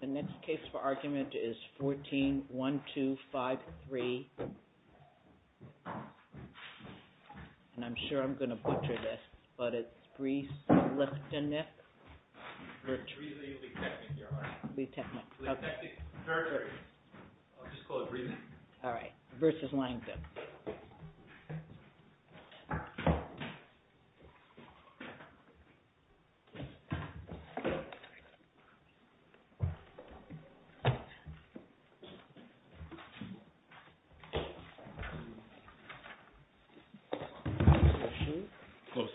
The next case for argument is 14-1253, and I'm sure I'm going to butcher this, but it's Mr. Langton.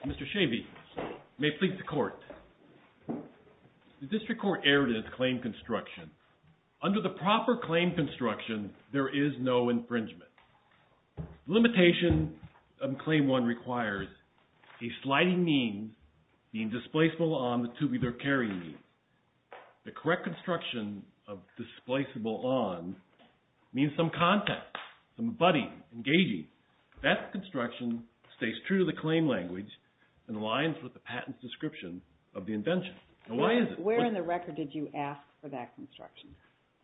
Mr. Chavey, may it please the Court. The District Court erred in its claim construction. Under the proper claim construction, there is no infringement. Limitation of Claim 1 requires a sliding means being displaceable on the tube either carrying means. The correct construction of displaceable on means some context, some abutting, engaging. That construction stays true to the claim language and aligns with the patent's description of the invention. Where in the record did you ask for that construction?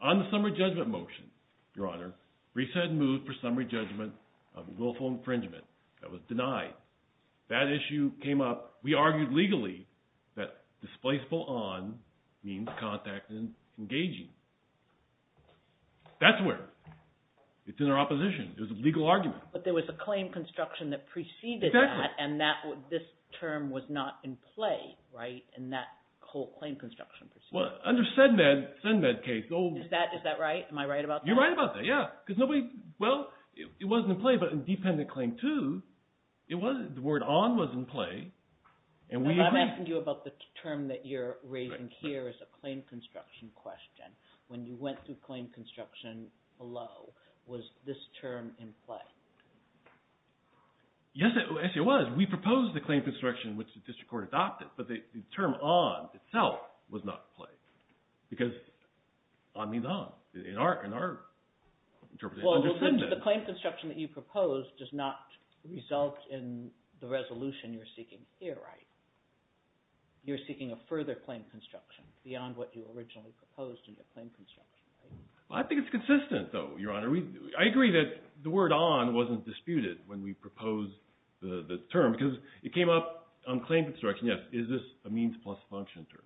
On the summary judgment motion, Your Honor, Risa had moved for summary judgment of willful infringement that was denied. That issue came up. We argued legally that displaceable on means context and engaging. That's where it's in our opposition. It was a legal argument. But there was a claim construction that preceded that, and this term was not in play in that whole claim construction proceeding. Under SEDMED, SEDMED case. Is that right? Am I right about that? You're right about that, yeah. Well, it wasn't in play, but in Dependent Claim 2, the word on was in play. I'm asking you about the term that you're raising here as a claim construction question. When you went through claim construction below, was this term in play? Yes, it was. We proposed the claim construction, which the district court adopted, but the term on itself was not in play because on means on in our interpretation. Well, the claim construction that you proposed does not result in the resolution you're seeking here, right? You're seeking a further claim construction beyond what you originally proposed in your claim construction, right? Well, I think it's consistent, though, Your Honor. I agree that the word on wasn't disputed when we proposed the term because it came up on claim construction. Yes, is this a means plus function term?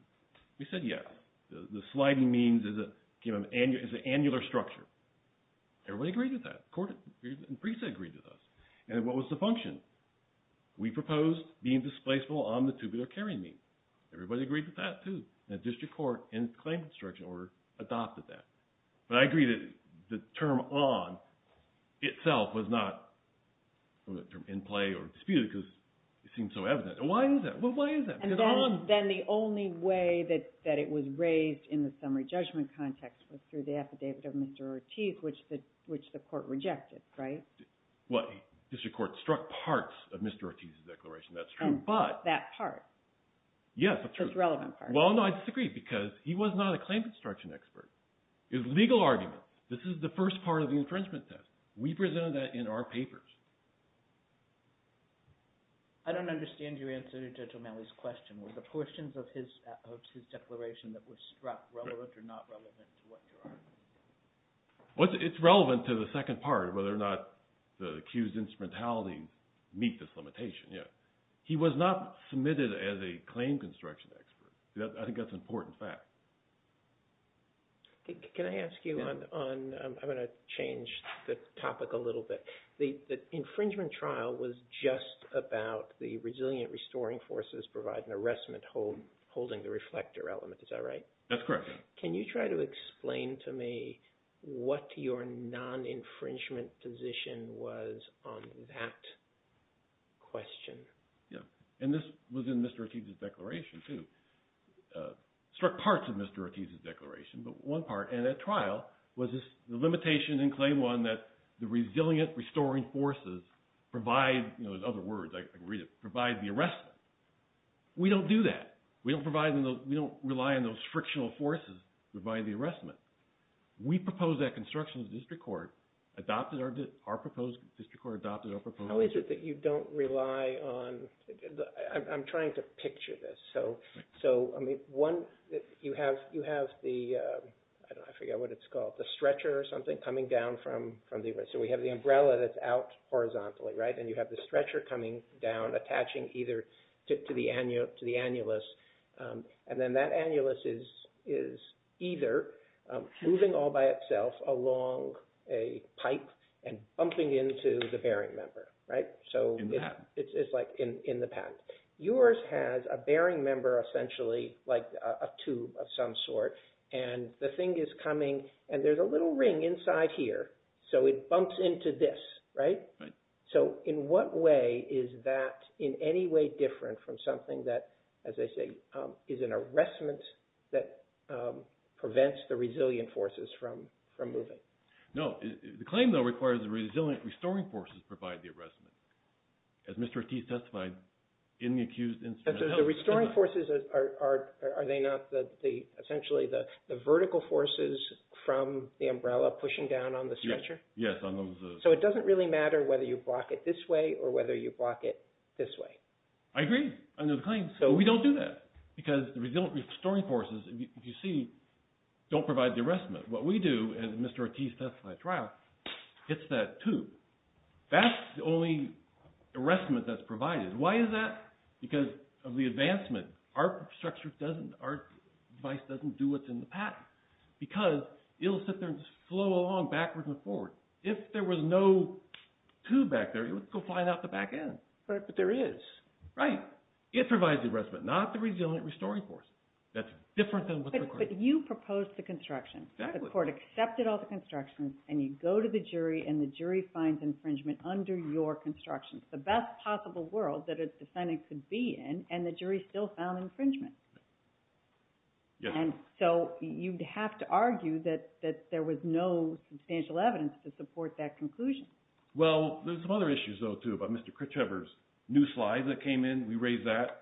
We said yes. The sliding means is an annular structure. Everybody agreed with that. The court agreed with us. And what was the function? We proposed being displaceable on the tubular carrying means. Everybody agreed with that, too. And the district court in the claim construction order adopted that. But I agree that the term on itself was not in play or disputed because it seemed so evident. And why is that? Well, why is that? Because on… And then the only way that it was raised in the summary judgment context was through the affidavit of Mr. Ortiz, which the court rejected, right? Well, the district court struck parts of Mr. Ortiz's declaration. That's true, but… Oh, but that part? Yes, that's true. Well, no, I disagree because he was not a claim construction expert. Legal arguments, this is the first part of the infringement test. We presented that in our papers. I don't understand your answer to Judge O'Malley's question. Were the portions of his declaration that were struck relevant or not relevant to what you're arguing? It's relevant to the second part of whether or not the accused's instrumentality meets this limitation, yes. He was not submitted as a claim construction expert. I think that's an important fact. Can I ask you on – I'm going to change the topic a little bit. The infringement trial was just about the resilient restoring forces providing arrestment holding the reflector element. Is that right? That's correct. Can you try to explain to me what your non-infringement position was on that question? And this was in Mr. Ortiz's declaration, too. Struck parts of Mr. Ortiz's declaration, but one part. And that trial was the limitation in Claim 1 that the resilient restoring forces provide – in other words, I can read it – provide the arrestment. We don't do that. We don't rely on those frictional forces to provide the arrestment. We proposed that construction in the district court, adopted our – our proposed district court adopted our proposed… How is it that you don't rely on – I'm trying to picture this. So, I mean, one, you have the – I forget what it's called – the stretcher or something coming down from the – so we have the umbrella that's out horizontally, right? And you have the stretcher coming down, attaching either to the – to the annulus. And then that annulus is either moving all by itself along a pipe and bumping into the bearing member, right? So it's like in the patent. Yours has a bearing member essentially like a tube of some sort, and the thing is coming, and there's a little ring inside here, so it bumps into this, right? Right. So in what way is that in any way different from something that, as I say, is an arrestment that prevents the resilient forces from moving? No. The claim, though, requires the resilient restoring forces provide the arrestment. As Mr. Ortiz testified in the accused instance… The restoring forces are – are they not the – essentially the vertical forces from the umbrella pushing down on the stretcher? Yes, on those… So it doesn't really matter whether you block it this way or whether you block it this way. I agree. I know the claim. So we don't do that because the resilient restoring forces, if you see, don't provide the arrestment. What we do, and Mr. Ortiz testified at trial, hits that tube. That's the only arrestment that's provided. Why is that? Because of the advancement. Our structure doesn't – our device doesn't do what's in the patent because it'll sit there and flow along backwards and forwards. If there was no tube back there, it would go flying out the back end. But there is. Right. It provides the arrestment, not the resilient restoring force. That's different than what the court… But you proposed the construction. Exactly. The court accepted all the constructions, and you go to the jury, and the jury finds infringement under your construction. It's the best possible world that a defendant could be in, and the jury still found infringement. Yes. And so you'd have to argue that there was no substantial evidence to support that conclusion. Well, there's some other issues, though, too, about Mr. Critchever's new slides that came in. We raised that.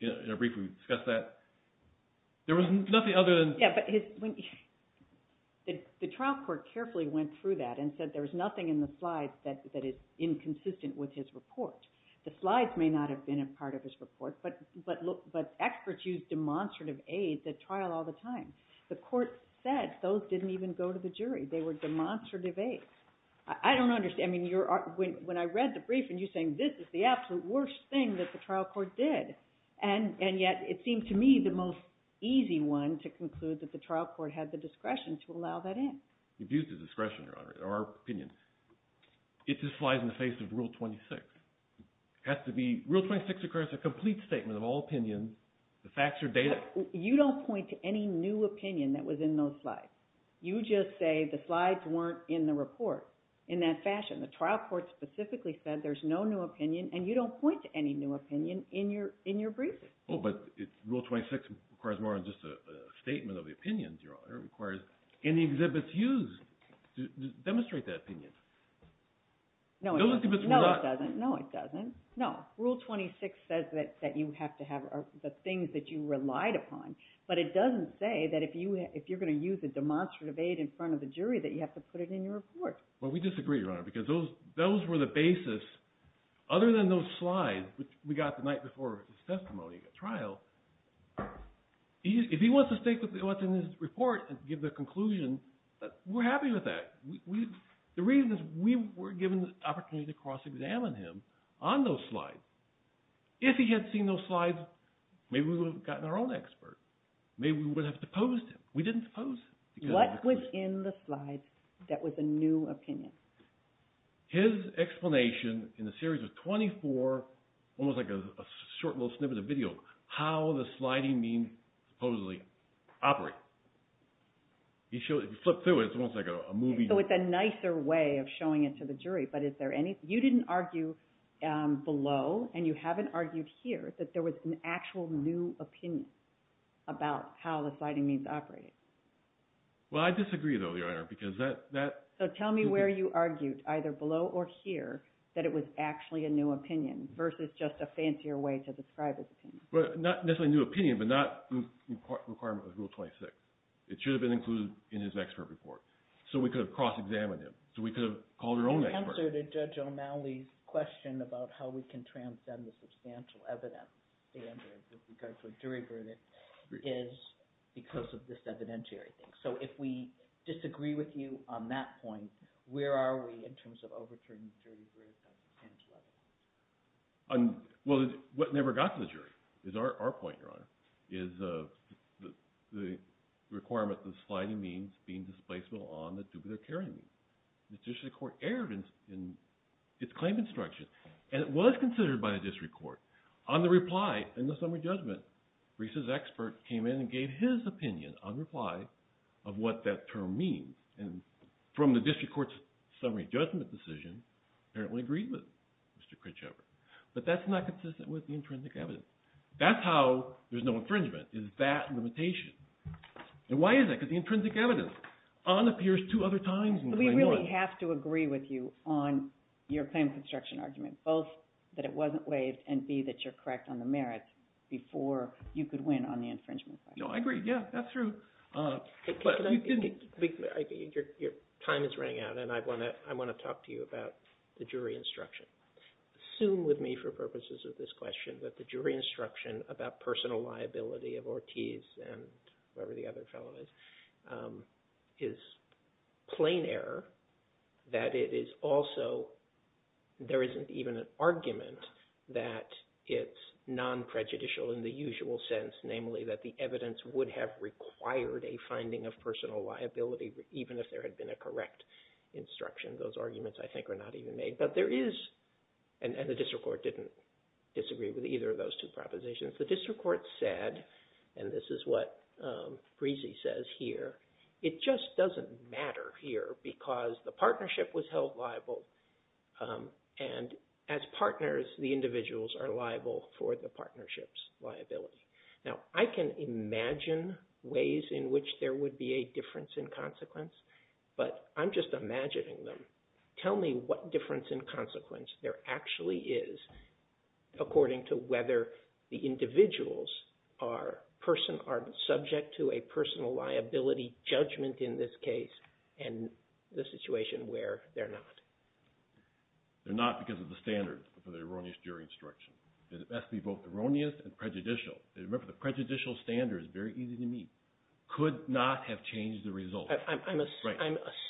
In a brief, we discussed that. There was nothing other than… Yeah, but his – the trial court carefully went through that and said there was nothing in the slides that is inconsistent with his report. The slides may not have been a part of his report, but experts use demonstrative aids at trial all the time. The court said those didn't even go to the jury. They were demonstrative aids. I don't understand. I mean, when I read the brief, and you're saying this is the absolute worst thing that the trial court did, and yet it seemed to me the most easy one to conclude that the trial court had the discretion to allow that in. You've used the discretion, Your Honor, or our opinion. It just flies in the face of Rule 26. It has to be – Rule 26 requires a complete statement of all opinion, the facts are data. You don't point to any new opinion that was in those slides. You just say the slides weren't in the report in that fashion. The trial court specifically said there's no new opinion, and you don't point to any new opinion in your briefing. Oh, but Rule 26 requires more than just a statement of the opinion, Your Honor. It requires any exhibits used to demonstrate that opinion. No, it doesn't. No, it doesn't. But it doesn't say that if you're going to use a demonstrative aid in front of the jury that you have to put it in your report. Well, we disagree, Your Honor, because those were the basis. Other than those slides, which we got the night before his testimony at trial, if he wants to state what's in his report and give the conclusion, we're happy with that. The reason is we were given the opportunity to cross-examine him on those slides. If he had seen those slides, maybe we would have gotten our own expert. Maybe we would have deposed him. We didn't depose him. What was in the slides that was a new opinion? His explanation in the series of 24, almost like a short little snippet of video, how the sliding means supposedly operate. He flipped through it. It's almost like a movie. So it's a nicer way of showing it to the jury, but is there any – you didn't argue below, and you haven't argued here, that there was an actual new opinion about how the sliding means operate. Well, I disagree, though, Your Honor, because that – So tell me where you argued, either below or here, that it was actually a new opinion versus just a fancier way to describe his opinion. Not necessarily a new opinion, but not a requirement of Rule 26. It should have been included in his expert report. So we could have cross-examined him. So we could have called our own expert. The answer to Judge O'Malley's question about how we can transcend the substantial evidence standard with regard to a jury verdict is because of this evidentiary thing. So if we disagree with you on that point, where are we in terms of overturning the jury verdict on substantial evidence? Well, what never got to the jury is our point, Your Honor, is the requirement of sliding means being displaceable on the duplicative carrying means. The district court erred in its claim instruction, and it was considered by the district court. On the reply in the summary judgment, Risa's expert came in and gave his opinion on reply of what that term means. And from the district court's summary judgment decision, apparently agreed with Mr. Critchover. But that's not consistent with the intrinsic evidence. That's how there's no infringement, is that limitation. And why is that? Because the intrinsic evidence on appears two other times in claim one. I agree that you're correct on the merits before you could win on the infringement side. No, I agree. Yeah, that's true. Your time is running out, and I want to talk to you about the jury instruction. Assume with me for purposes of this question that the jury instruction about personal liability of Ortiz and whoever the other fellow is, is plain error. That it is also, there isn't even an argument that it's non-prejudicial in the usual sense, namely that the evidence would have required a finding of personal liability, even if there had been a correct instruction. Those arguments, I think, are not even made. But there is, and the district court didn't disagree with either of those two propositions. The district court said, and this is what Risa says here, it just doesn't matter here because the partnership was held liable. And as partners, the individuals are liable for the partnership's liability. Now, I can imagine ways in which there would be a difference in consequence, but I'm just imagining them. Tell me what difference in consequence there actually is according to whether the individuals are subject to a personal liability judgment in this case and the situation where they're not. They're not because of the standard for the erroneous jury instruction. It has to be both erroneous and prejudicial. Remember, the prejudicial standard is very easy to meet. Could not have changed the result. I'm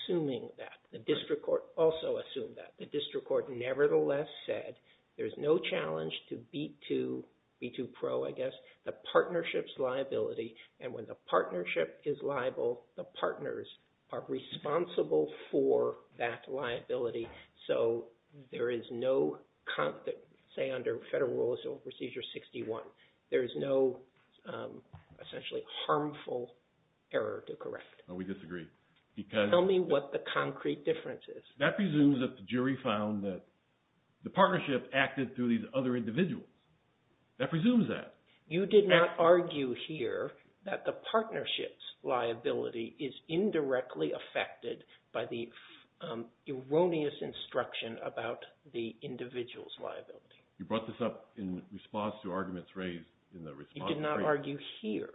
assuming that. The district court also assumed that. The district court nevertheless said there's no challenge to B2, B2 Pro, I guess, the partnership's liability. And when the partnership is liable, the partners are responsible for that liability. So there is no, say under Federal Rule of Civil Procedure 61, there is no essentially harmful error to correct. We disagree. Tell me what the concrete difference is. That presumes that the jury found that the partnership acted through these other individuals. That presumes that. You did not argue here that the partnership's liability is indirectly affected by the erroneous instruction about the individual's liability. You brought this up in response to arguments raised in the response. You did not argue here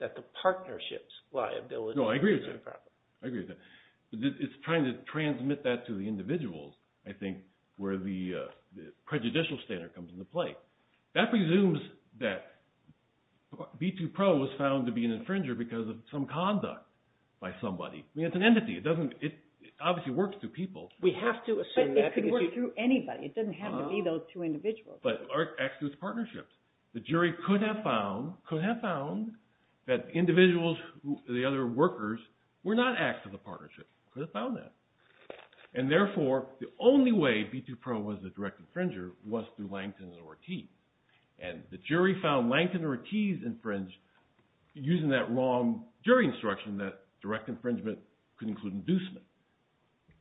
that the partnership's liability is a problem. No, I agree with that. I agree with that. It's trying to transmit that to the individuals, I think, where the prejudicial standard comes into play. That presumes that B2 Pro was found to be an infringer because of some conduct by somebody. I mean, it's an entity. It doesn't – it obviously works through people. We have to assume that. But it could work through anybody. It doesn't have to be those two individuals. The jury could have found – could have found that individuals, the other workers, were not active in the partnership. Could have found that. And therefore, the only way B2 Pro was a direct infringer was through Langton and Ortiz. And the jury found Langton and Ortiz infringed using that wrong jury instruction that direct infringement could include inducement.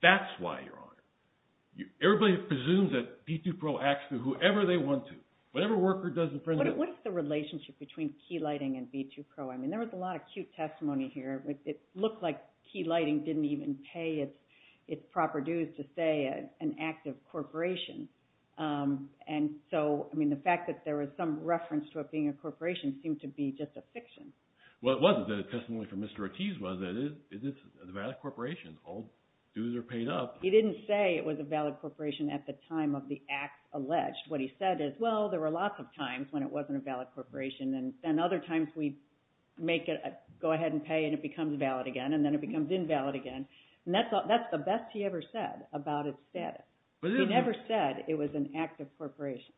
That's why you're arguing. Everybody presumes that B2 Pro acts through whoever they want to. Whatever worker does infringement – What is the relationship between key lighting and B2 Pro? I mean, there was a lot of cute testimony here. It looked like key lighting didn't even pay its proper dues to, say, an active corporation. And so, I mean, the fact that there was some reference to it being a corporation seemed to be just a fiction. Well, it wasn't. The testimony from Mr. Ortiz was that it's a vast corporation. All dues are paid up. He didn't say it was a valid corporation at the time of the act alleged. What he said is, well, there were lots of times when it wasn't a valid corporation. And other times we make it go ahead and pay and it becomes valid again, and then it becomes invalid again. And that's the best he ever said about its status. He never said it was an active corporation.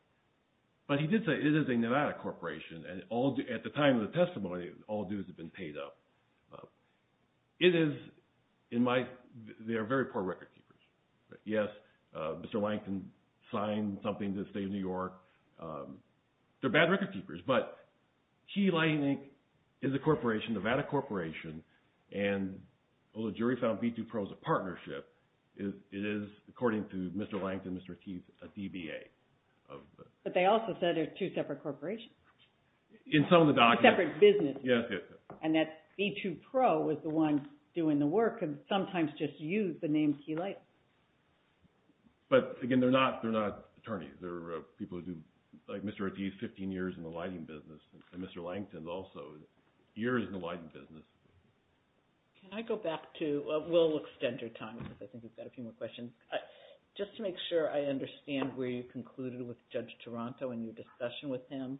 But he did say it is a Nevada corporation, and at the time of the testimony, all dues have been paid up. It is in my – they are very poor record keepers. Yes, Mr. Langton signed something to the state of New York. They're bad record keepers. But Key Lighting Inc. is a corporation, a Nevada corporation, and although the jury found B2 Pro as a partnership, it is, according to Mr. Langton and Mr. Ortiz, a DBA. But they also said they're two separate corporations. In some of the documents. Two separate businesses. Yes, yes, yes. And that B2 Pro was the one doing the work and sometimes just used the name Key Lighting. But, again, they're not attorneys. They're people who do – like Mr. Ortiz, 15 years in the lighting business. And Mr. Langton also, years in the lighting business. Can I go back to – we'll extend your time because I think we've got a few more questions. Just to make sure I understand where you concluded with Judge Taranto and your discussion with him,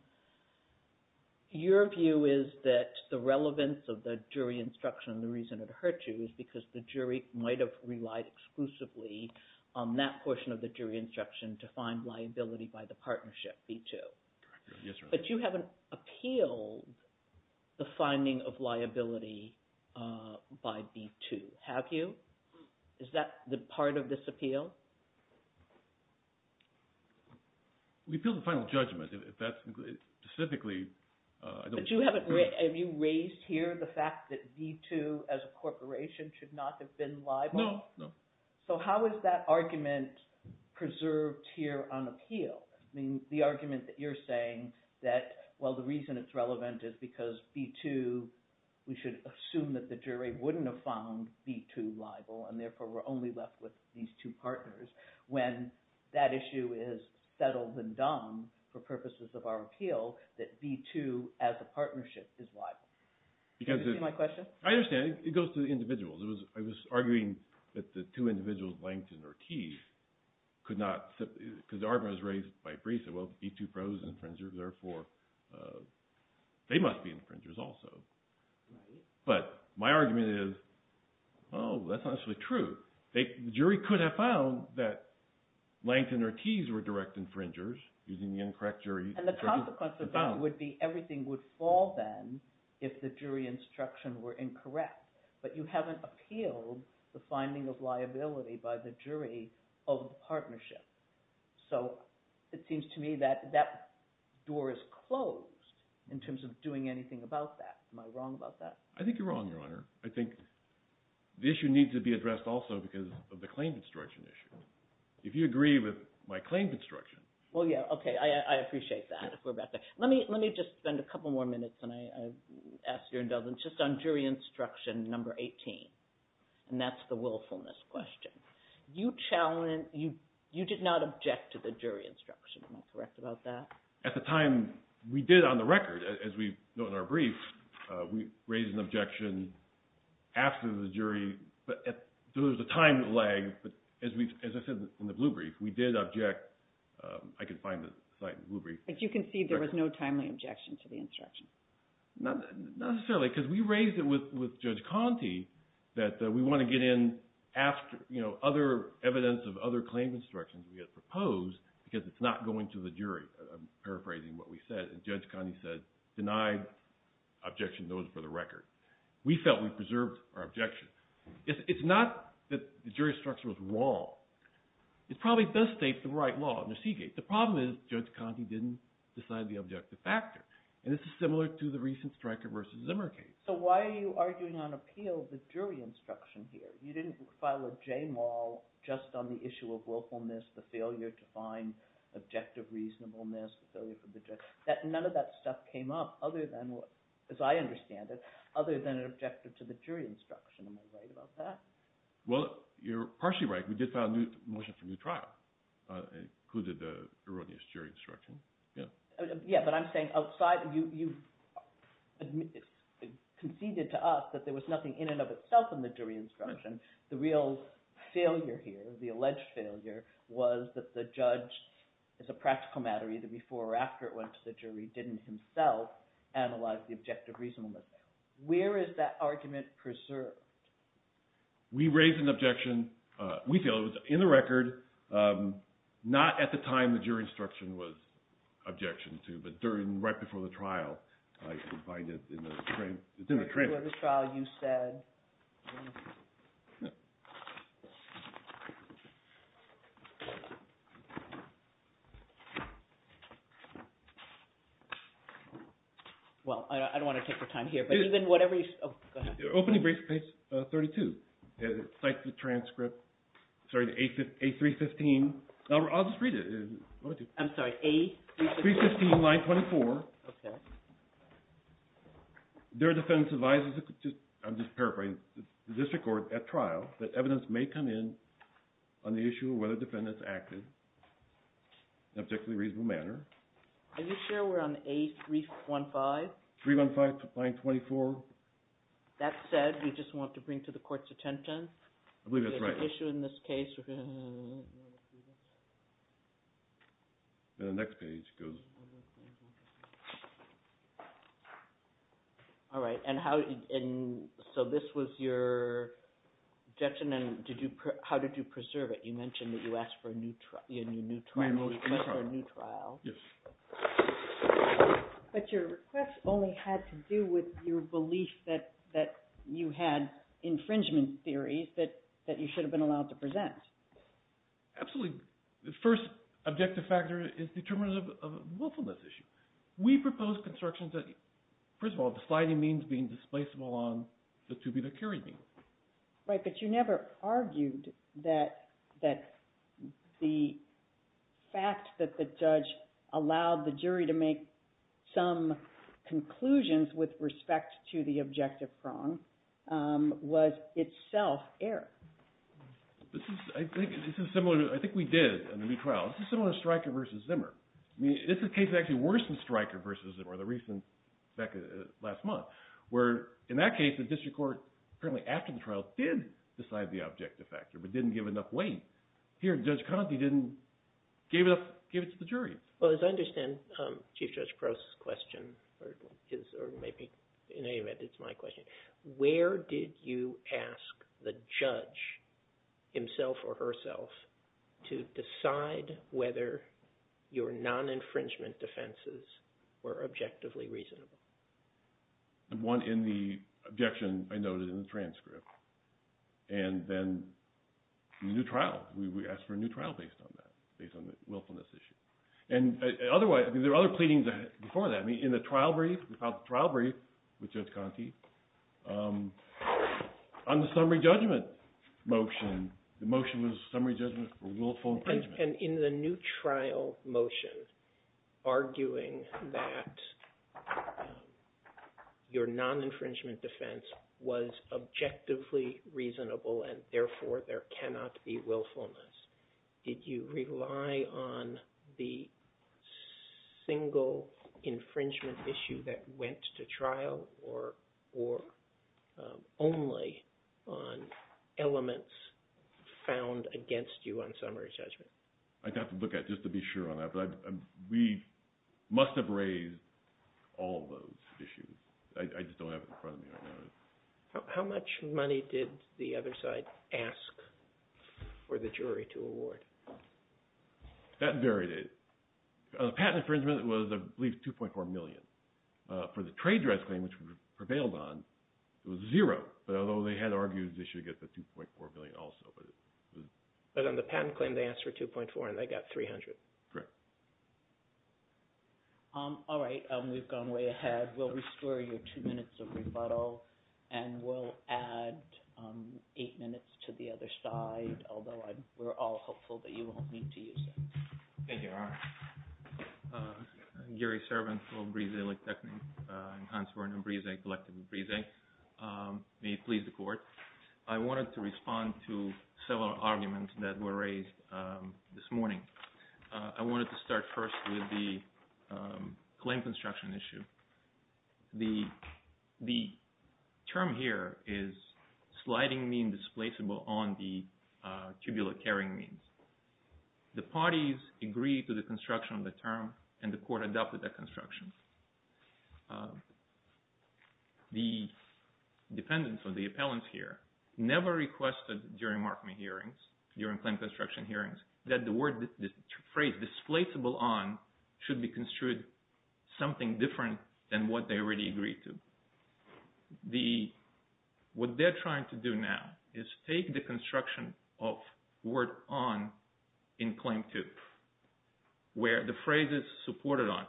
your view is that the relevance of the jury instruction and the reason it hurt you is because the jury might have relied exclusively on that portion of the jury instruction to find liability by the partnership, B2. Yes, Your Honor. But you haven't appealed the finding of liability by B2, have you? Is that part of this appeal? We appealed the final judgment. If that's specifically – But you haven't – have you raised here the fact that B2 as a corporation should not have been liable? No, no. So how is that argument preserved here on appeal? I mean the argument that you're saying that, well, the reason it's relevant is because B2 – we should assume that the jury wouldn't have found B2 liable, and therefore we're only left with these two partners. When that issue is settled and done for purposes of our appeal, that B2 as a partnership is liable. Do you see my question? I understand. It goes to the individuals. I was arguing that the two individuals, Langton or Keith, could not – because the argument was raised by Brisa. Well, B2 pros are infringers, therefore they must be infringers also. But my argument is, oh, that's not actually true. The jury could have found that Langton or Keith were direct infringers using the incorrect jury – And the consequence of that would be everything would fall then if the jury instruction were incorrect. But you haven't appealed the finding of liability by the jury of the partnership. So it seems to me that that door is closed in terms of doing anything about that. Am I wrong about that? I think you're wrong, Your Honor. I think the issue needs to be addressed also because of the claim construction issue. If you agree with my claim construction – Well, yeah, okay. I appreciate that. Let me just spend a couple more minutes, and I ask your indulgence, just on jury instruction number 18, and that's the willfulness question. You challenged – you did not object to the jury instruction. Am I correct about that? At the time we did on the record, as we note in our brief, we raised an objection after the jury – there was a time lag, but as I said in the blue brief, we did object – I can find the slide in the blue brief. But you concede there was no timely objection to the instruction? Not necessarily because we raised it with Judge Conte that we want to get in after – other evidence of other claim instructions we had proposed because it's not going to the jury. I'm paraphrasing what we said. Judge Conte said, denied objection, those for the record. We felt we preserved our objection. It's not that the jury instruction was wrong. It probably does state the right law in the Seagate. The problem is Judge Conte didn't decide the objective factor. And this is similar to the recent Stryker v. Zimmer case. So why are you arguing on appeal the jury instruction here? You didn't file a JMAL just on the issue of willfulness, the failure to find objective reasonableness. None of that stuff came up other than – as I understand it – other than an objective to the jury instruction. Am I right about that? Well, you're partially right. We did file a motion for new trial. It included the erroneous jury instruction. Yeah, but I'm saying outside – you conceded to us that there was nothing in and of itself in the jury instruction. The real failure here, the alleged failure, was that the judge, as a practical matter, either before or after it went to the jury, didn't himself analyze the objective reasonableness. Where is that argument preserved? We raised an objection. We feel it was in the record. Not at the time the jury instruction was objected to, but during – right before the trial. I find it in the transcript. Before the trial, you said – Well, I don't want to take your time here, but even whatever – Oh, go ahead. Opening brief, page 32. Cites the transcript. Sorry, A315. I'll just read it. I'm sorry, A315? 315, line 24. Okay. There are defendants advised – I'm just paraphrasing – the district court at trial that evidence may come in on the issue of whether defendants acted in an objectively reasonable manner. Are you sure we're on A315? 315, line 24. That said, we just want to bring to the court's attention. I believe that's right. Is there an issue in this case? The next page goes – All right, and how – so this was your objection, and how did you preserve it? You mentioned that you asked for a new trial. Yes. But your request only had to do with your belief that you had infringement theories that you should have been allowed to present. Absolutely. The first objective factor is determinants of willfulness issue. We proposed constructions that – first of all, the sliding means being displaceable on the tubular carry means. Right, but you never argued that the fact that the judge allowed the jury to make some conclusions with respect to the objective prong was itself error. This is – I think this is similar to – I think we did a new trial. This is similar to Stryker v. Zimmer. I mean, this is a case actually worse than Stryker v. Zimmer, the recent – back last month, where in that case the district court, apparently after the trial, did decide the objective factor but didn't give enough weight. Here, Judge Conte didn't give it to the jury. Well, as I understand Chief Judge Crowe's question, or maybe in any event it's my question, where did you ask the judge himself or herself to decide whether your non-infringement defenses were objectively reasonable? One, in the objection I noted in the transcript, and then the new trial. We asked for a new trial based on that, based on the willfulness issue. And otherwise, I mean, there are other pleadings before that. I mean, in the trial brief, we filed the trial brief with Judge Conte on the summary judgment motion. The motion was summary judgment for willful infringement. And in the new trial motion, arguing that your non-infringement defense was objectively reasonable and therefore there cannot be willfulness, did you rely on the single infringement issue that went to trial or only on elements found against you on summary judgment? I'd have to look at it just to be sure on that. But we must have raised all of those issues. I just don't have it in front of me right now. How much money did the other side ask for the jury to award? That varied. The patent infringement was, I believe, $2.4 million. For the trade dress claim, which we prevailed on, it was zero. Although they had argued they should get the $2.4 million also. But on the patent claim, they asked for $2.4 and they got $300. Correct. All right, we've gone way ahead. We'll restore your two minutes of rebuttal, and we'll add eight minutes to the other side, although we're all hopeful that you won't need to use them. Thank you, Your Honor. I'm Gary Servant from Brzezlik Technik. I'm Hans Werner Brzezik, elected in Brzezik. May it please the Court. I wanted to respond to several arguments that were raised this morning. I wanted to start first with the claim construction issue. The term here is sliding mean displaceable on the tubular carrying means. The parties agreed to the construction of the term, and the Court adopted that construction. The dependents or the appellants here never requested during marketing hearings, during claim construction hearings, that the phrase displaceable on should be construed something different than what they already agreed to. What they're trying to do now is take the construction of word on in claim two, where the phrase is supported on.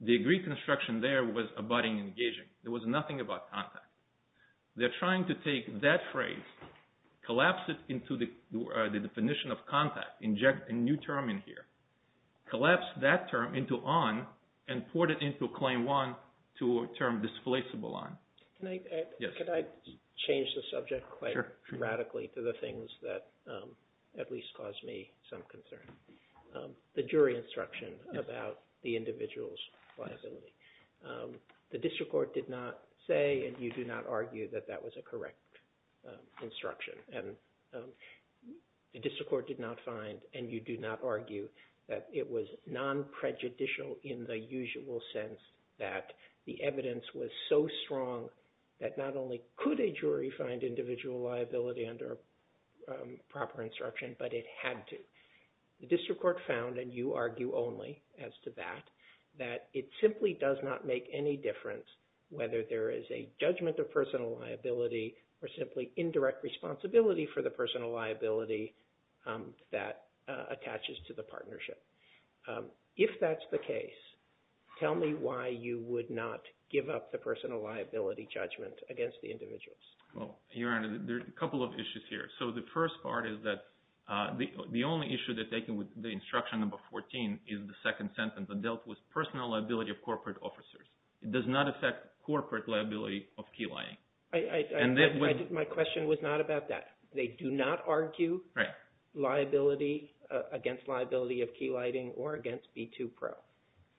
The agreed construction there was abutting and engaging. There was nothing about contact. They're trying to take that phrase, collapse it into the definition of contact, inject a new term in here, collapse that term into on, and port it into claim one to a term displaceable on. Can I change the subject quite radically to the things that at least cause me some concern? The jury instruction about the individual's liability. The district court did not say, and you do not argue, that that was a correct instruction. The district court did not find, and you do not argue, that it was non-prejudicial in the usual sense that the evidence was so strong that not only could a jury find individual liability under proper instruction, but it had to. The district court found, and you argue only as to that, that it simply does not make any difference whether there is a judgment of personal liability or simply indirect responsibility for the personal liability that attaches to the partnership. If that's the case, tell me why you would not give up the personal liability judgment against the individuals. Well, Your Honor, there are a couple of issues here. So the first part is that the only issue they're taking with the instruction number 14 is the second sentence, that dealt with personal liability of corporate officers. It does not affect corporate liability of key lighting. My question was not about that. They do not argue against liability of key lighting or against B2Pro.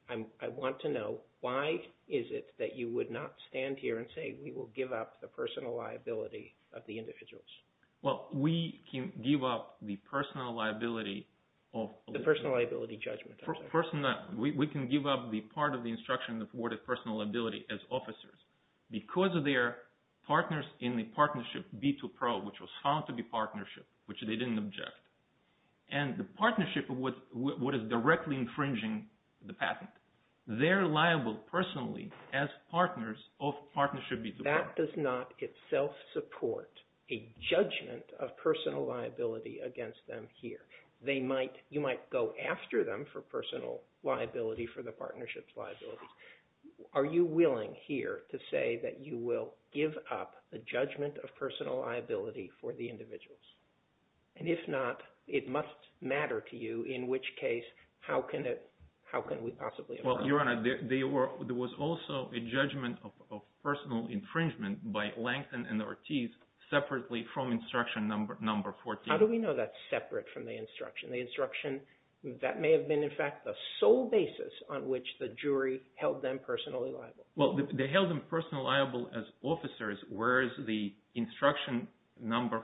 I want to know why is it that you would not stand here and say we will give up the personal liability of the individuals? Well, we can give up the personal liability of… The personal liability judgment, I'm sorry. We can give up the part of the instruction that awarded personal liability as officers because of their partners in the partnership B2Pro, which was found to be partnership, which they didn't object. And the partnership, what is directly infringing the patent, they're liable personally as partners of partnership B2Pro. That does not itself support a judgment of personal liability against them here. You might go after them for personal liability for the partnership's liability. Are you willing here to say that you will give up the judgment of personal liability for the individuals? And if not, it must matter to you, in which case, how can we possibly… Well, Your Honor, there was also a judgment of personal infringement by Langton and Ortiz separately from instruction number 14. How do we know that's separate from the instruction? The instruction, that may have been, in fact, the sole basis on which the jury held them personally liable. Well, they held them personally liable as officers, whereas the instruction number,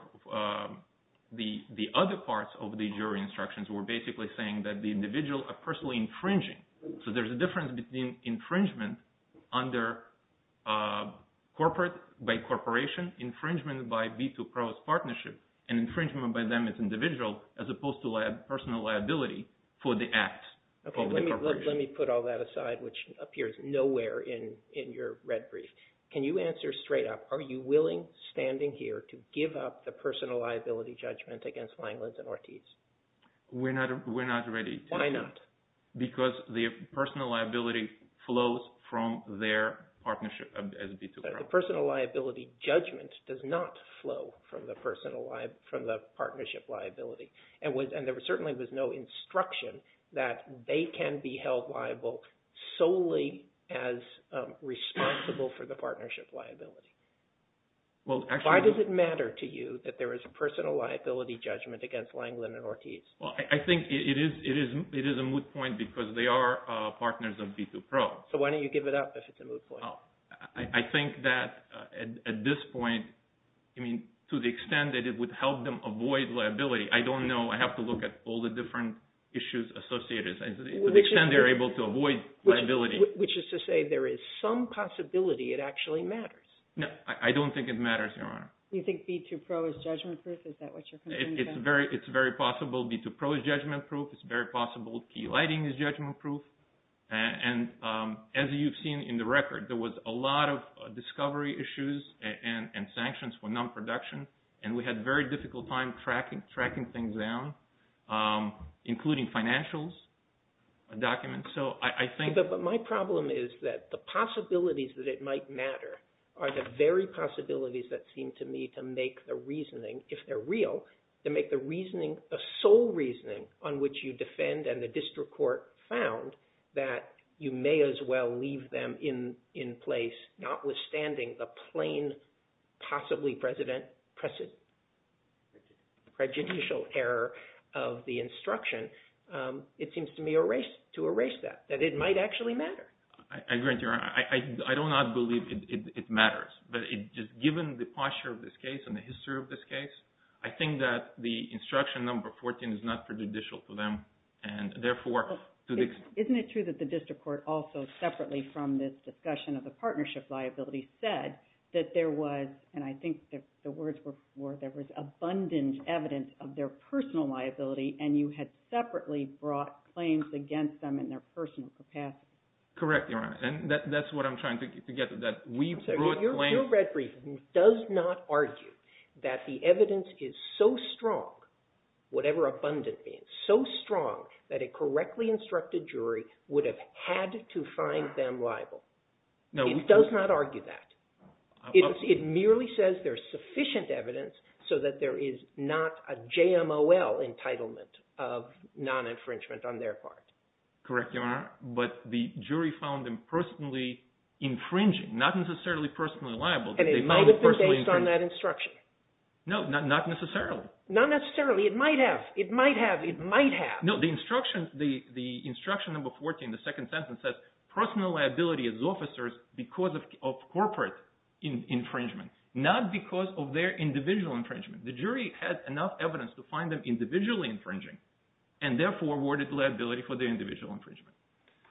the other parts of the jury instructions were basically saying that the individual are personally infringing. So there's a difference between infringement under corporate, by corporation, infringement by B2Pro's partnership, and infringement by them as individual as opposed to personal liability for the act of the corporation. Let me put all that aside, which appears nowhere in your red brief. Can you answer straight up, are you willing, standing here, to give up the personal liability judgment against Langton and Ortiz? We're not ready. Why not? Because the personal liability flows from their partnership as B2Pro. The personal liability judgment does not flow from the partnership liability. And there certainly was no instruction that they can be held liable solely as responsible for the partnership liability. Why does it matter to you that there is a personal liability judgment against Langton and Ortiz? Well, I think it is a moot point because they are partners of B2Pro. So why don't you give it up if it's a moot point? I think that at this point, to the extent that it would help them avoid liability, I don't know. I have to look at all the different issues associated. To the extent they are able to avoid liability. Which is to say there is some possibility it actually matters. No, I don't think it matters, Your Honor. Do you think B2Pro is judgment proof? Is that what you're concerned about? It's very possible B2Pro is judgment proof. It's very possible Key Lighting is judgment proof. And as you've seen in the record, there was a lot of discovery issues and sanctions for non-production. And we had a very difficult time tracking things down, including financials documents. But my problem is that the possibilities that it might matter are the very possibilities that seem to me to make the reasoning, if they're real, to make the reasoning a sole reasoning on which you defend and the district court found that you may as well leave them in place, notwithstanding the plain, possibly prejudicial error of the instruction. It seems to me to erase that, that it might actually matter. I agree with you, Your Honor. I do not believe it matters. But just given the posture of this case and the history of this case, I think that the instruction number 14 is not prejudicial to them. Isn't it true that the district court also separately from this discussion of the partnership liability said that there was, and I think the words were, there was abundant evidence of their personal liability, and you had separately brought claims against them in their personal capacity? Correct, Your Honor. And that's what I'm trying to get at. Your red brief does not argue that the evidence is so strong, whatever abundant it is, so strong that a correctly instructed jury would have had to find them liable. It does not argue that. It merely says there's sufficient evidence so that there is not a JMOL entitlement of non-infringement on their part. Correct, Your Honor. But the jury found them personally infringing, not necessarily personally liable. And it might have been based on that instruction. No, not necessarily. Not necessarily. It might have. It might have. It might have. No, the instruction, the instruction number 14, the second sentence says personal liability as officers because of corporate infringement, not because of their individual infringement. The jury had enough evidence to find them individually infringing, and therefore awarded liability for their individual infringement.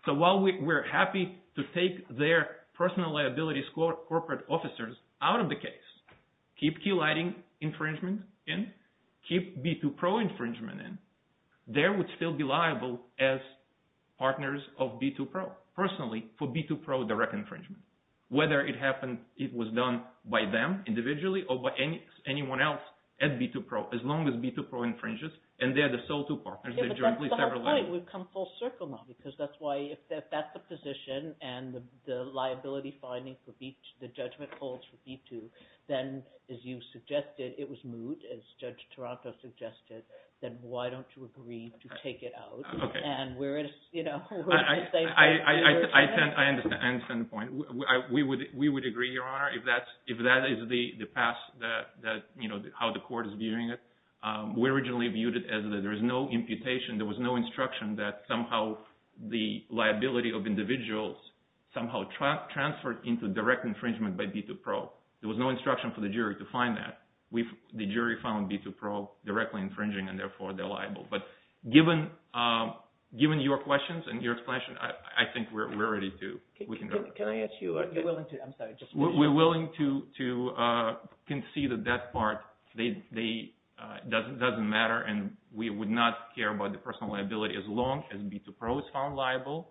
So while we're happy to take their personal liability corporate officers out of the case, keep Key Lighting infringement in, keep B2Pro infringement in, they would still be liable as partners of B2Pro personally for B2Pro direct infringement, whether it happened, it was done by them individually or by anyone else at B2Pro, as long as B2Pro infringes, and they're the sole two partners. But that's the whole point. We've come full circle now. Because that's why, if that's the position and the liability finding for B2, the judgment holds for B2, then as you suggested, it was moot, as Judge Taranto suggested, then why don't you agree to take it out? I understand the point. We would agree, Your Honor, if that is the path, how the court is viewing it. We originally viewed it as there is no imputation. There was no instruction that somehow the liability of individuals somehow transferred into direct infringement by B2Pro. There was no instruction for the jury to find that. The jury found B2Pro directly infringing, and therefore they're liable. But given your questions and your explanation, I think we're ready to… Can I ask you… We're willing to concede that that part doesn't matter, and we would not care about the personal liability as long as B2Pro is found liable,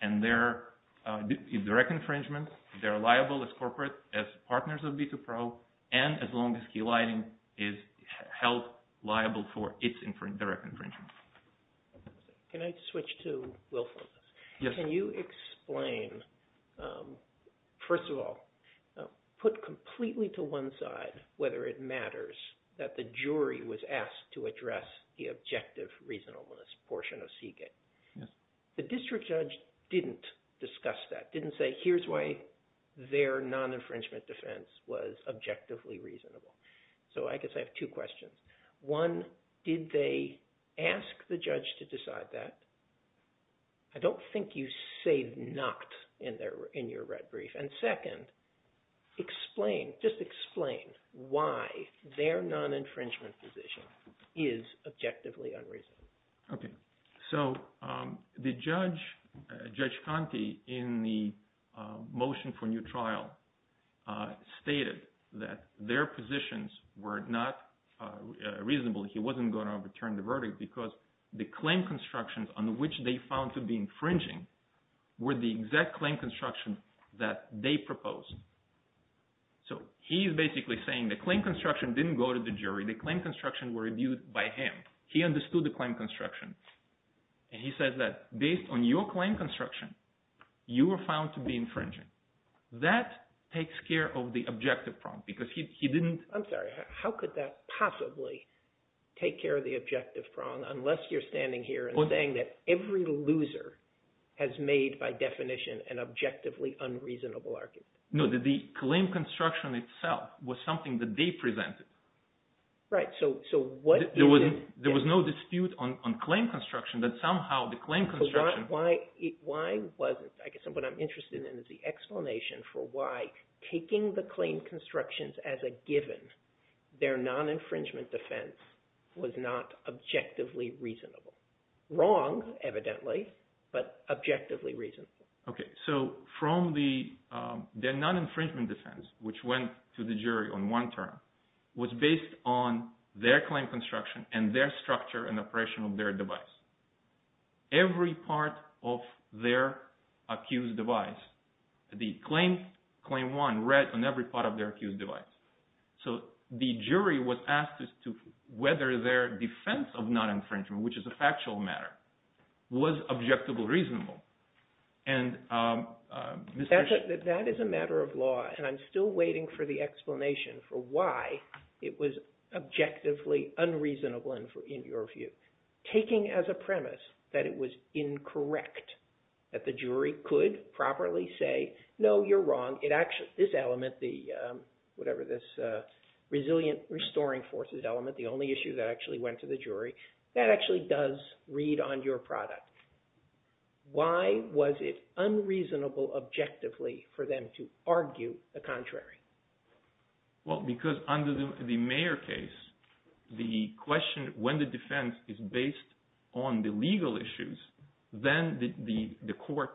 and they're direct infringement, they're liable as corporate, as partners of B2Pro, and as long as Key Lighting is held liable for its direct infringement. Can I switch to Wilson? Yes. Can you explain, first of all, put completely to one side whether it matters that the jury was asked to address the objective reasonableness portion of SIGIT. Yes. The district judge didn't discuss that, didn't say here's why their non-infringement defense was objectively reasonable. So I guess I have two questions. One, did they ask the judge to decide that? I don't think you say not in your red brief. And second, explain, just explain why their non-infringement position is objectively unreasonable. Okay. So the judge, Judge Conte, in the motion for new trial, stated that their positions were not reasonable. He wasn't going to overturn the verdict because the claim constructions on which they found to be infringing were the exact claim construction that they proposed. So he's basically saying the claim construction didn't go to the jury. The claim constructions were reviewed by him. He understood the claim construction. And he said that based on your claim construction, you were found to be infringing. That takes care of the objective problem because he didn't – I'm sorry. How could that possibly take care of the objective problem unless you're standing here and saying that every loser has made by definition an objectively unreasonable argument? No, the claim construction itself was something that they presented. Right. So what – There was no dispute on claim construction, but somehow the claim construction – Why was it? I guess what I'm interested in is the explanation for why taking the claim constructions as a given, their non-infringement defense was not objectively reasonable. Wrong, evidently, but objectively reasonable. Okay. So from the non-infringement defense, which went to the jury on one term, was based on their claim construction and their structure and operation of their device. Every part of their accused device, the claim one read on every part of their accused device. So the jury was asked as to whether their defense of non-infringement, which is a factual matter, was objectively reasonable. And Mr. – That is a matter of law, and I'm still waiting for the explanation for why it was objectively unreasonable in your view. Taking as a premise that it was incorrect, that the jury could properly say, no, you're wrong, this element, whatever this resilient restoring forces element, the only issue that actually went to the jury, that actually does read on your product. Why was it unreasonable objectively for them to argue the contrary? Well, because under the Mayer case, the question, when the defense is based on the legal issues, then the court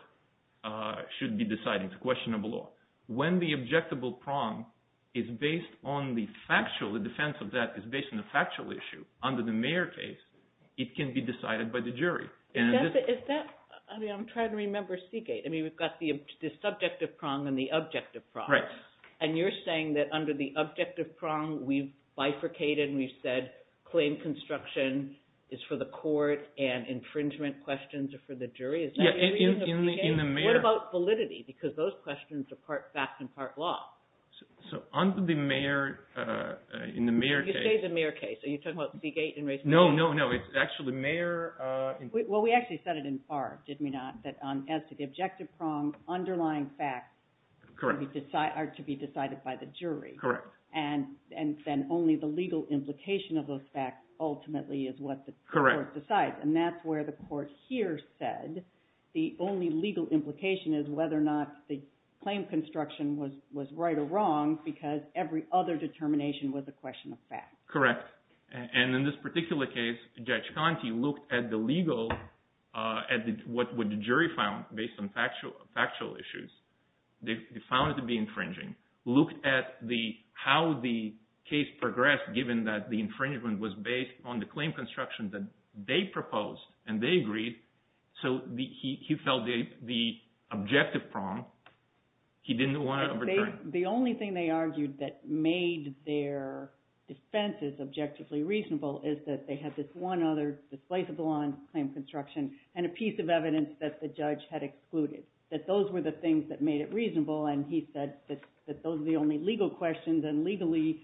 should be deciding the question of law. When the objectable prong is based on the factual, the defense of that is based on the factual issue, under the Mayer case, it can be decided by the jury. Is that – I mean, I'm trying to remember Seagate. I mean, we've got the subjective prong and the objective prong. Right. And you're saying that under the objective prong, we've bifurcated and we've said claim construction is for the court and infringement questions are for the jury? Yeah, in the Mayer – What about validity? Because those questions are part fact and part law. So under the Mayer – in the Mayer case – You say the Mayer case. Are you talking about Seagate? No, no, no. It's actually Mayer – Well, we actually said it in part, did we not, that as to the objective prong, underlying facts are to be decided by the jury. Correct. And then only the legal implication of those facts ultimately is what the court decides. Correct. And that's where the court here said the only legal implication is whether or not the claim construction was right or wrong because every other determination was a question of fact. Correct. And in this particular case, Judge Conte looked at the legal – at what the jury found based on factual issues. They found it to be infringing. Looked at how the case progressed given that the infringement was based on the claim construction that they proposed and they agreed. So he felt the objective prong, he didn't want to overturn. The only thing they argued that made their defense as objectively reasonable is that they had this one other displaceable on claim construction and a piece of evidence that the judge had excluded, that those were the things that made it reasonable. And he said that those are the only legal questions and legally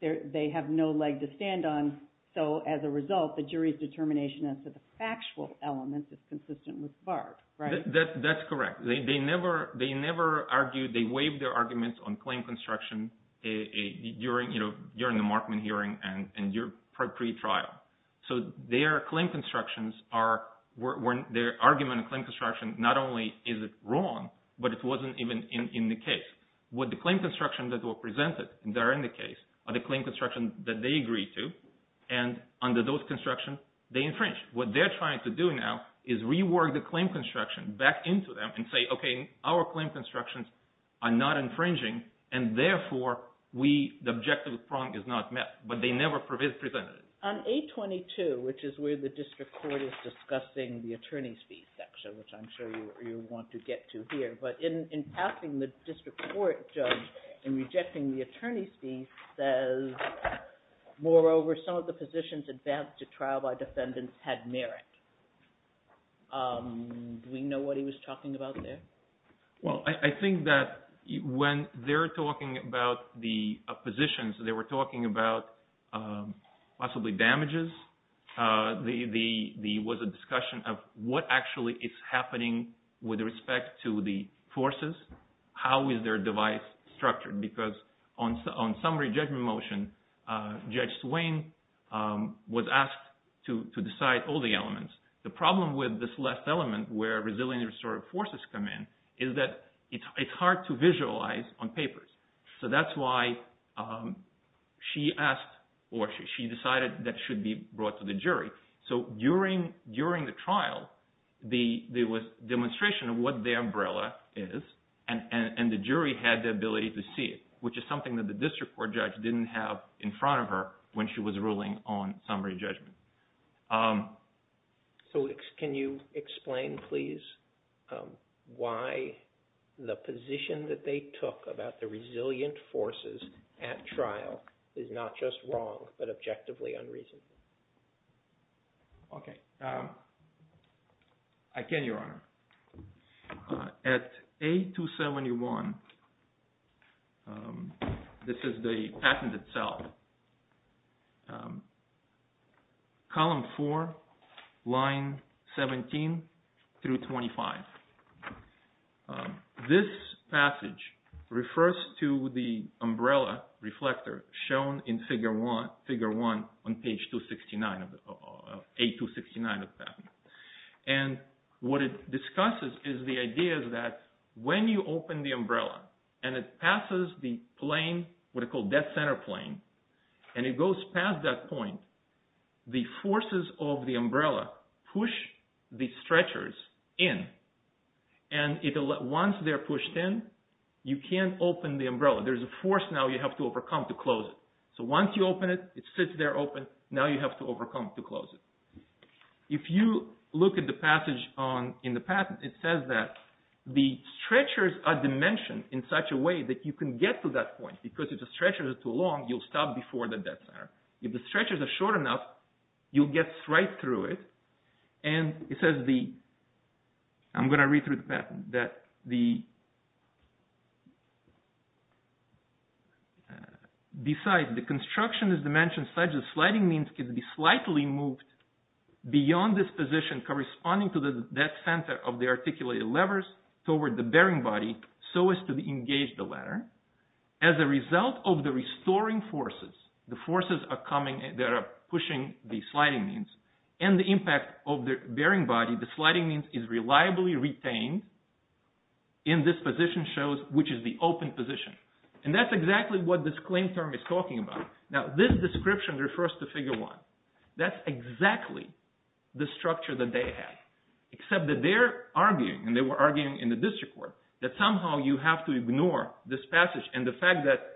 they have no leg to stand on. So as a result, the jury's determination as to the factual element is consistent with Barb, right? That's correct. They never argued – they waived their arguments on claim construction during the Markman hearing and your pre-trial. So their claim constructions are – their argument on claim construction, not only is it wrong, but it wasn't even in the case. What the claim construction that were presented there in the case are the claim construction that they agreed to, and under those construction, they infringed. What they're trying to do now is rework the claim construction back into them and say, okay, our claim constructions are not infringing, and therefore the objective prong is not met. But they never presented it. On 822, which is where the district court is discussing the attorney's fee section, which I'm sure you want to get to here. But in passing the district court judge and rejecting the attorney's fee says, moreover, some of the positions advanced to trial by defendants had merit. Do we know what he was talking about there? Well, I think that when they're talking about the positions, they were talking about possibly damages. There was a discussion of what actually is happening with respect to the forces. How is their device structured? Because on summary judgment motion, Judge Swain was asked to decide all the elements. The problem with this last element where resilient and restorative forces come in is that it's hard to visualize on papers. So that's why she asked or she decided that should be brought to the jury. So during the trial, there was demonstration of what the umbrella is, and the jury had the ability to see it, which is something that the district court judge didn't have in front of her when she was ruling on summary judgment. So can you explain, please, why the position that they took about the resilient forces at trial is not just wrong, but objectively unreasonable? Okay. I can, Your Honor. At A271, this is the patent itself. Column 4, line 17 through 25. This passage refers to the umbrella reflector shown in figure 1 on page 269 of the patent. And what it discusses is the idea that when you open the umbrella and it passes the plane, what are called death center plane, and it goes past that point, the forces of the umbrella push the stretchers in. And once they're pushed in, you can't open the umbrella. There's a force now you have to overcome to close it. So once you open it, it sits there open. Now you have to overcome to close it. If you look at the passage in the patent, it says that the stretchers are dimensioned in such a way that you can get to that point, because if the stretchers are too long, you'll stop before the death center. If the stretchers are short enough, you'll get right through it. I'm going to read through the patent. Besides, the construction is dimensioned such that sliding means can be slightly moved beyond this position corresponding to the death center of the articulated levers toward the bearing body so as to engage the ladder. As a result of the restoring forces, the forces that are pushing the sliding means, and the impact of the bearing body, the sliding means is reliably retained in this position shows, which is the open position. And that's exactly what this claim term is talking about. Now this description refers to Figure 1. That's exactly the structure that they have, except that they're arguing, and they were arguing in the district court, that somehow you have to ignore this passage, and the fact that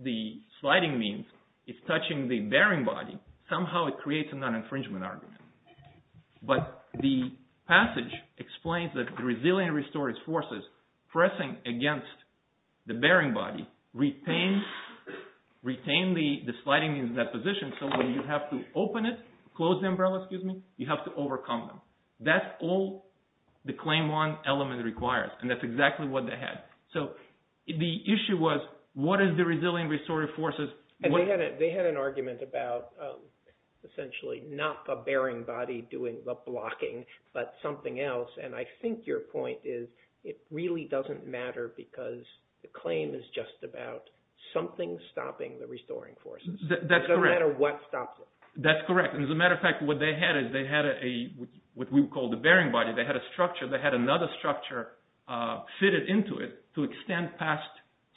the sliding means is touching the bearing body, somehow it creates a non-infringement argument. But the passage explains that the resilient restoring forces pressing against the bearing body retain the sliding means in that position, so when you have to open it, close the umbrella, you have to overcome them. That's all the Claim 1 element requires, and that's exactly what they had. So the issue was what is the resilient restoring forces? They had an argument about essentially not the bearing body doing the blocking, but something else, and I think your point is it really doesn't matter because the claim is just about something stopping the restoring forces. That's correct. It doesn't matter what stops it. That's correct, and as a matter of fact, what they had is they had what we would call the bearing body. They had a structure. They had another structure fitted into it to extend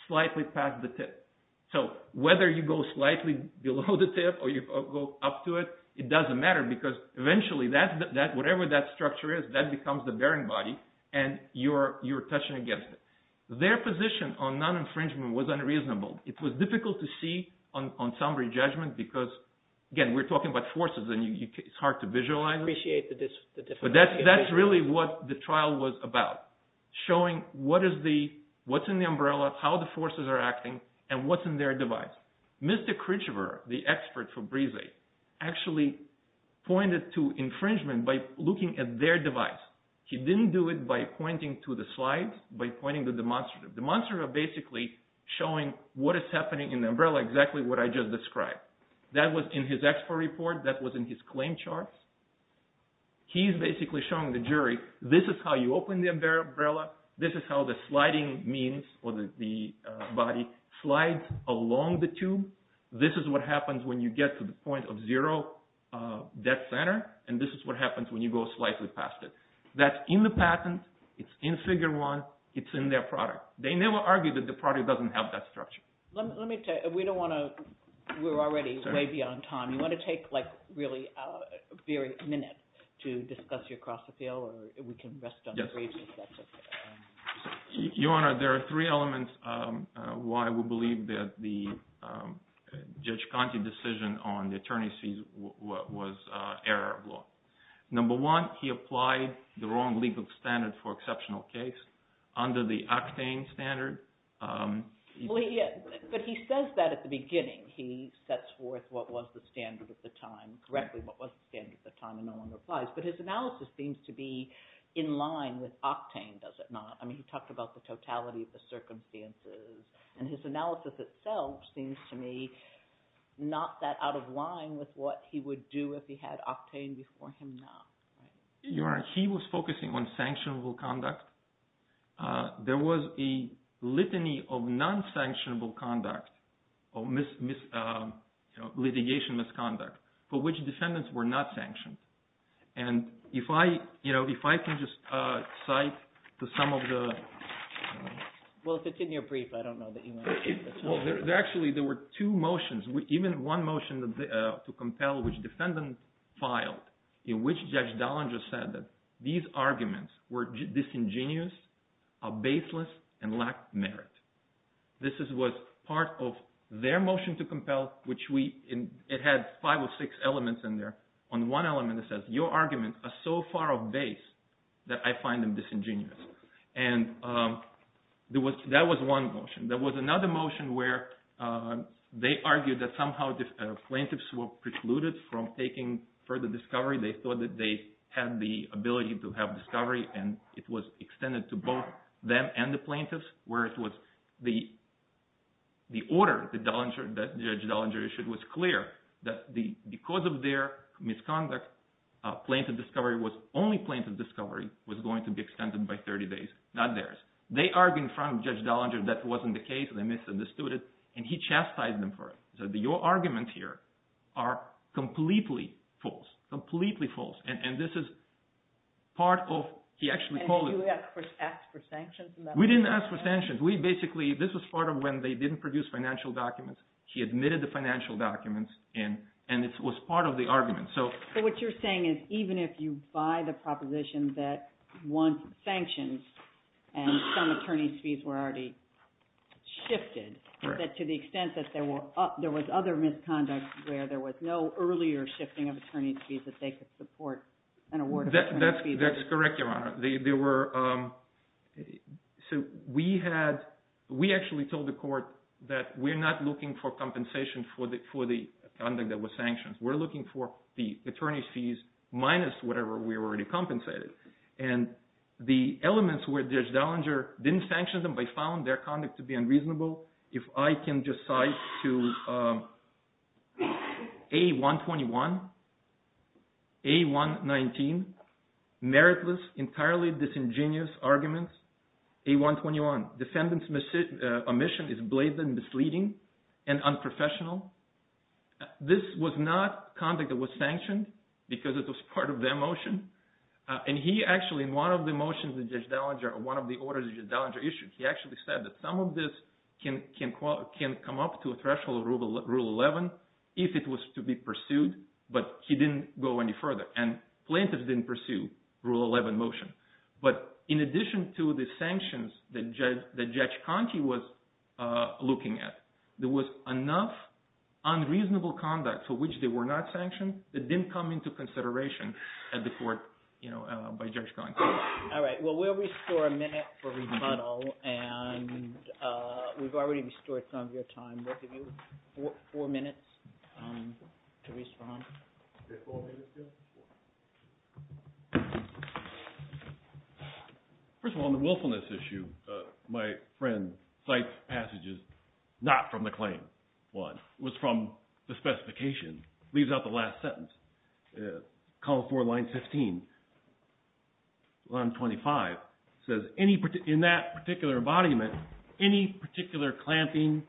slightly past the tip. So whether you go slightly below the tip or you go up to it, it doesn't matter because eventually whatever that structure is, that becomes the bearing body, and you're touching against it. Their position on non-infringement was unreasonable. It was difficult to see on summary judgment because, again, we're talking about forces, and it's hard to visualize. I appreciate the difficulty. But that's really what the trial was about, showing what's in the umbrella, how the forces are acting, and what's in their device. Mr. Kritchever, the expert for Brise, actually pointed to infringement by looking at their device. He didn't do it by pointing to the slides, by pointing to demonstrative. Demonstrative are basically showing what is happening in the umbrella, exactly what I just described. That was in his expert report. That was in his claim charts. He's basically showing the jury, this is how you open the umbrella. This is how the sliding means or the body slides along the tube. This is what happens when you get to the point of zero death center, and this is what happens when you go slightly past it. That's in the patent. It's in Figure 1. It's in their product. They never argue that the product doesn't have that structure. Let me tell you, we don't want to – we're already way beyond time. You want to take like really a minute to discuss your cross appeal, or we can rest on the briefs if that's okay. Your Honor, there are three elements why we believe that the Judge Conte decision on the attorney's fees was error of law. Number one, he applied the wrong legal standard for exceptional case under the octane standard. But he says that at the beginning. He sets forth what was the standard at the time, correctly what was the standard at the time, and no one replies. But his analysis seems to be in line with octane, does it not? I mean he talked about the totality of the circumstances. And his analysis itself seems to me not that out of line with what he would do if he had octane before him now. Your Honor, he was focusing on sanctionable conduct. There was a litany of non-sanctionable conduct or litigation misconduct for which descendants were not sanctioned. And if I can just cite some of the – Well, if it's in your brief, I don't know that you want to take the time. Actually, there were two motions, even one motion to compel which defendant filed in which Judge Dallinger said that these arguments were disingenuous, baseless, and lacked merit. This was part of their motion to compel, which we – it had five or six elements in there. On one element it says your arguments are so far off base that I find them disingenuous. And that was one motion. There was another motion where they argued that somehow plaintiffs were precluded from taking further discovery. They thought that they had the ability to have discovery, and it was extended to both them and the plaintiffs. The order that Judge Dallinger issued was clear that because of their misconduct, plaintiff discovery was – only plaintiff discovery was going to be extended by 30 days, not theirs. They argued in front of Judge Dallinger that wasn't the case and they misunderstood it, and he chastised them for it. So your arguments here are completely false, completely false. And this is part of – he actually called it – we didn't ask for sanctions. We basically – this was part of when they didn't produce financial documents. He admitted the financial documents, and it was part of the argument. So what you're saying is even if you buy the proposition that one sanctions and some attorney's fees were already shifted, that to the extent that there was other misconduct where there was no earlier shifting of attorney's fees that they could support an award of attorney's fees. That's correct, Your Honor. There were – so we had – we actually told the court that we're not looking for compensation for the conduct that was sanctioned. We're looking for the attorney's fees minus whatever we already compensated. And the elements where Judge Dallinger didn't sanction them, they found their conduct to be unreasonable. If I can just cite to A121, A119, meritless, entirely disingenuous arguments. A121, defendant's omission is blatant and misleading and unprofessional. This was not conduct that was sanctioned because it was part of their motion. And he actually, in one of the motions that Judge Dallinger – or one of the orders that Judge Dallinger issued, he actually said that some of this can come up to a threshold of Rule 11 if it was to be pursued, but he didn't go any further. And plaintiffs didn't pursue Rule 11 motion. But in addition to the sanctions that Judge Conti was looking at, there was enough unreasonable conduct for which they were not sanctioned that didn't come into consideration at the court by Judge Conti. All right. Well, we'll restore a minute for rebuttal, and we've already restored some of your time. We'll give you four minutes to respond. First of all, on the willfulness issue, my friend cites passages not from the claim. One was from the specification, leaves out the last sentence. Column 4, line 15, line 25 says, in that particular embodiment, any particular clamping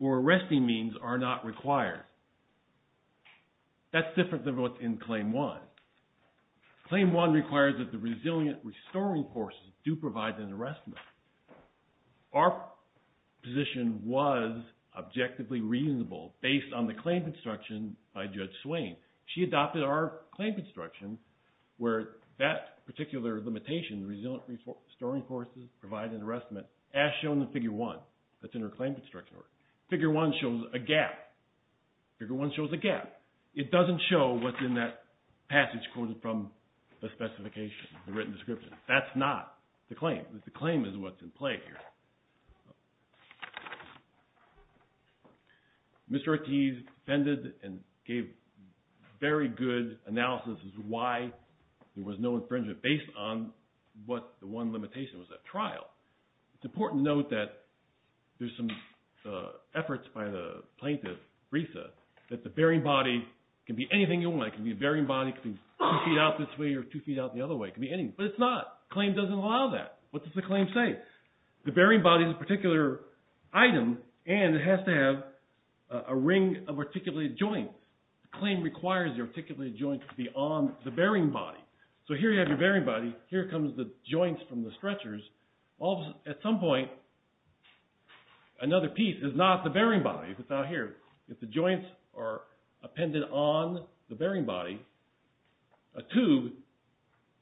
or arresting means are not required. That's different than what's in Claim 1. Claim 1 requires that the resilient restoring forces do provide an arrestment. Our position was objectively reasonable based on the claim construction by Judge Swain. She adopted our claim construction where that particular limitation, resilient restoring forces, provide an arrestment, as shown in Figure 1. That's in her claim construction order. Figure 1 shows a gap. Figure 1 shows a gap. It doesn't show what's in that passage quoted from the specification, the written description. That's not the claim. The claim is what's in play here. Mr. Ortiz defended and gave very good analysis as to why there was no infringement based on what the one limitation was at trial. It's important to note that there's some efforts by the plaintiff, Brisa, that the bearing body can be anything you want. It can be a bearing body, it can be two feet out this way or two feet out the other way. It can be anything, but it's not. The claim doesn't allow that. What does the claim say? The bearing body is a particular item, and it has to have a ring of articulated joints. The claim requires the articulated joints to be on the bearing body. So here you have your bearing body. Here comes the joints from the stretchers. At some point, another piece is not the bearing body. It's out here. If the joints are appended on the bearing body, a tube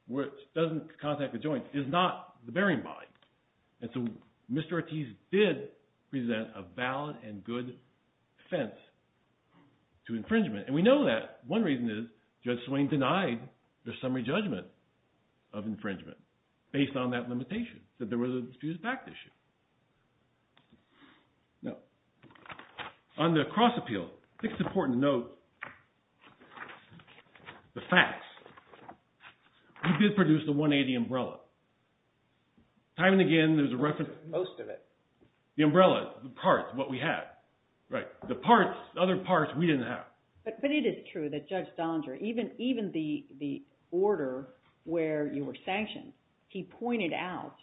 which doesn't contact the joints is not the bearing body. And so Mr. Ortiz did present a valid and good defense to infringement. And we know that. One reason is Judge Swain denied the summary judgment of infringement based on that limitation, that there was a disputed fact issue. Now, on the cross appeal, I think it's important to note the facts. We did produce the 180 umbrella. Time and again, there's a reference. Most of it. The umbrella, the parts, what we had. Right. The parts, other parts we didn't have. But it is true that Judge Dondra, even the order where you were sanctioned, he pointed out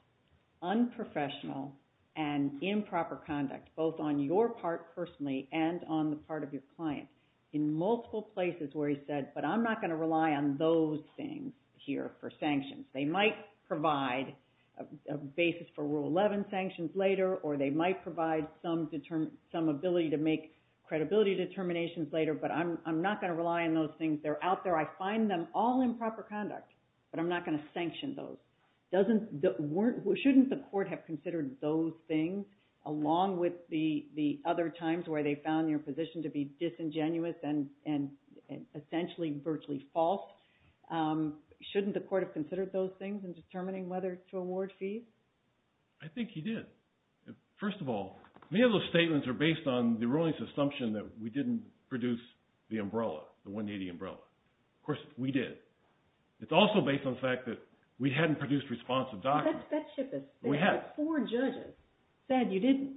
unprofessional and improper conduct, both on your part personally and on the part of your client, in multiple places where he said, but I'm not going to rely on those things here for sanctions. They might provide a basis for Rule 11 sanctions later, or they might provide some ability to make credibility determinations later, but I'm not going to rely on those things. They're out there. I find them all improper conduct, but I'm not going to sanction those. Shouldn't the court have considered those things along with the other times where they found your position to be disingenuous and essentially virtually false? Shouldn't the court have considered those things in determining whether to award fees? I think he did. First of all, many of those statements are based on the ruling's assumption that we didn't produce the umbrella, the 180 umbrella. Of course, we did. It's also based on the fact that we hadn't produced responsive documents. That ship is – We have. Four judges said you didn't.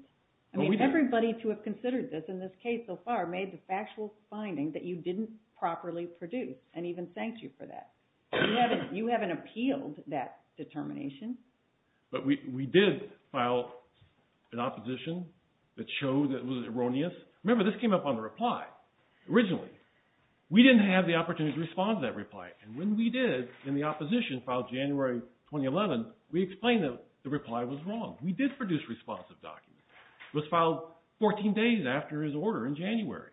I mean, everybody to have considered this in this case so far made the factual finding that you didn't properly produce and even thanked you for that. You haven't appealed that determination. But we did file an opposition that showed that it was erroneous. Remember, this came up on the reply originally. We didn't have the opportunity to respond to that reply, and when we did in the opposition filed January 2011, we explained that the reply was wrong. We did produce responsive documents. It was filed 14 days after his order in January,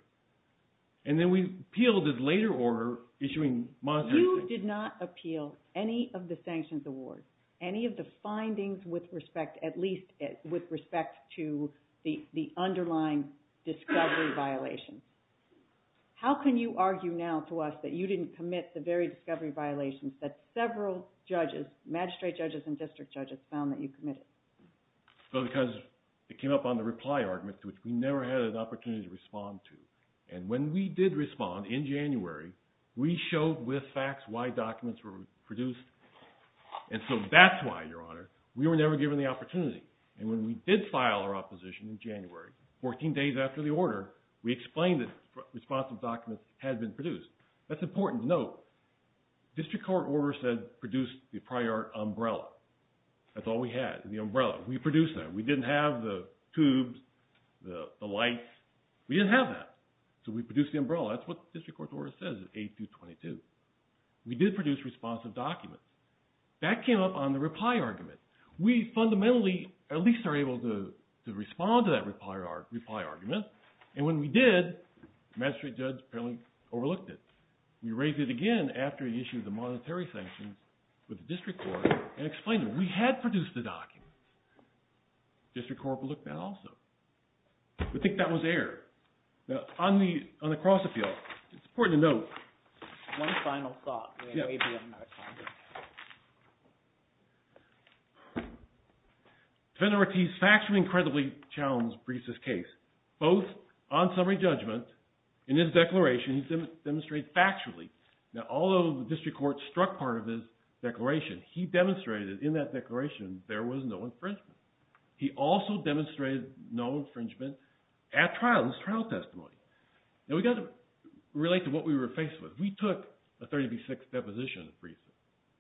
and then we appealed his later order issuing monetary – You did not appeal any of the sanctions awards, any of the findings with respect – at least with respect to the underlying discovery violation. How can you argue now to us that you didn't commit the very discovery violations that several judges, magistrate judges and district judges, found that you committed? Well, because it came up on the reply argument, which we never had an opportunity to respond to. And when we did respond in January, we showed with facts why documents were produced. And so that's why, Your Honor, we were never given the opportunity. And when we did file our opposition in January, 14 days after the order, we explained that responsive documents had been produced. That's important to note. The district court order said produce the prior umbrella. That's all we had, the umbrella. We produced that. We didn't have the tubes, the lights. We didn't have that. So we produced the umbrella. That's what the district court's order says at page 222. We did produce responsive documents. That came up on the reply argument. We fundamentally at least are able to respond to that reply argument. And when we did, the magistrate judge apparently overlooked it. We raised it again after the issue of the monetary sanctions with the district court and explained that we had produced the documents. The district court overlooked that also. We think that was error. Now, on the cross-appeal, it's important to note. One final thought. Yeah. Defendant Ortiz factually and credibly challenged Brees' case, both on summary judgment. In his declaration, he demonstrated factually. Now, although the district court struck part of his declaration, he demonstrated in that declaration there was no infringement. He also demonstrated no infringement at trial, his trial testimony. Now, we've got to relate to what we were faced with. We took a 30B6 deposition of Brees',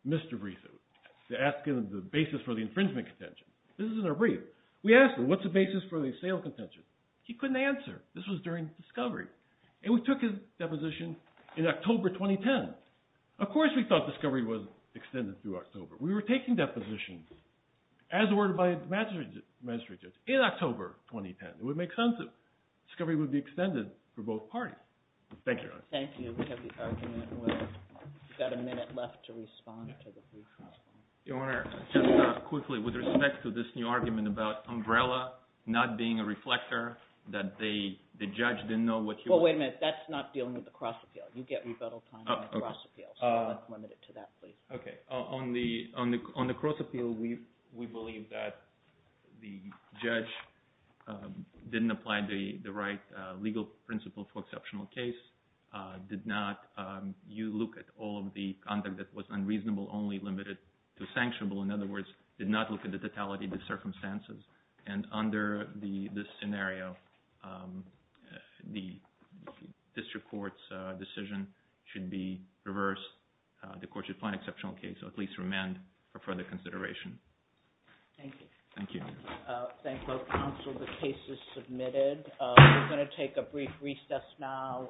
Mr. Brees', asking him the basis for the infringement contention. This is in our brief. We asked him, what's the basis for the assailant contention? He couldn't answer. This was during discovery. And we took his deposition in October 2010. Of course we thought discovery was extended through October. We were taking depositions, as ordered by the magistrate judge, in October 2010. It would make sense that discovery would be extended for both parties. Thank you, Your Honor. Thank you. We have the argument. We've got a minute left to respond to the brief response. Your Honor, just quickly, with respect to this new argument about Umbrella not being a reflector, that the judge didn't know what you were saying. Well, wait a minute. That's not dealing with the cross-appeal. You get rebuttal time on the cross-appeal. So that's limited to that, please. Okay. On the cross-appeal, we believe that the judge didn't apply the right legal principle for exceptional case. Did not look at all of the conduct that was unreasonable, only limited to sanctionable. In other words, did not look at the totality of the circumstances. And under this scenario, the district court's decision should be reversed. The court should find exceptional case, or at least remand, for further consideration. Thank you. Thank you. Thank both counsel. The case is submitted. We're going to take a brief recess now.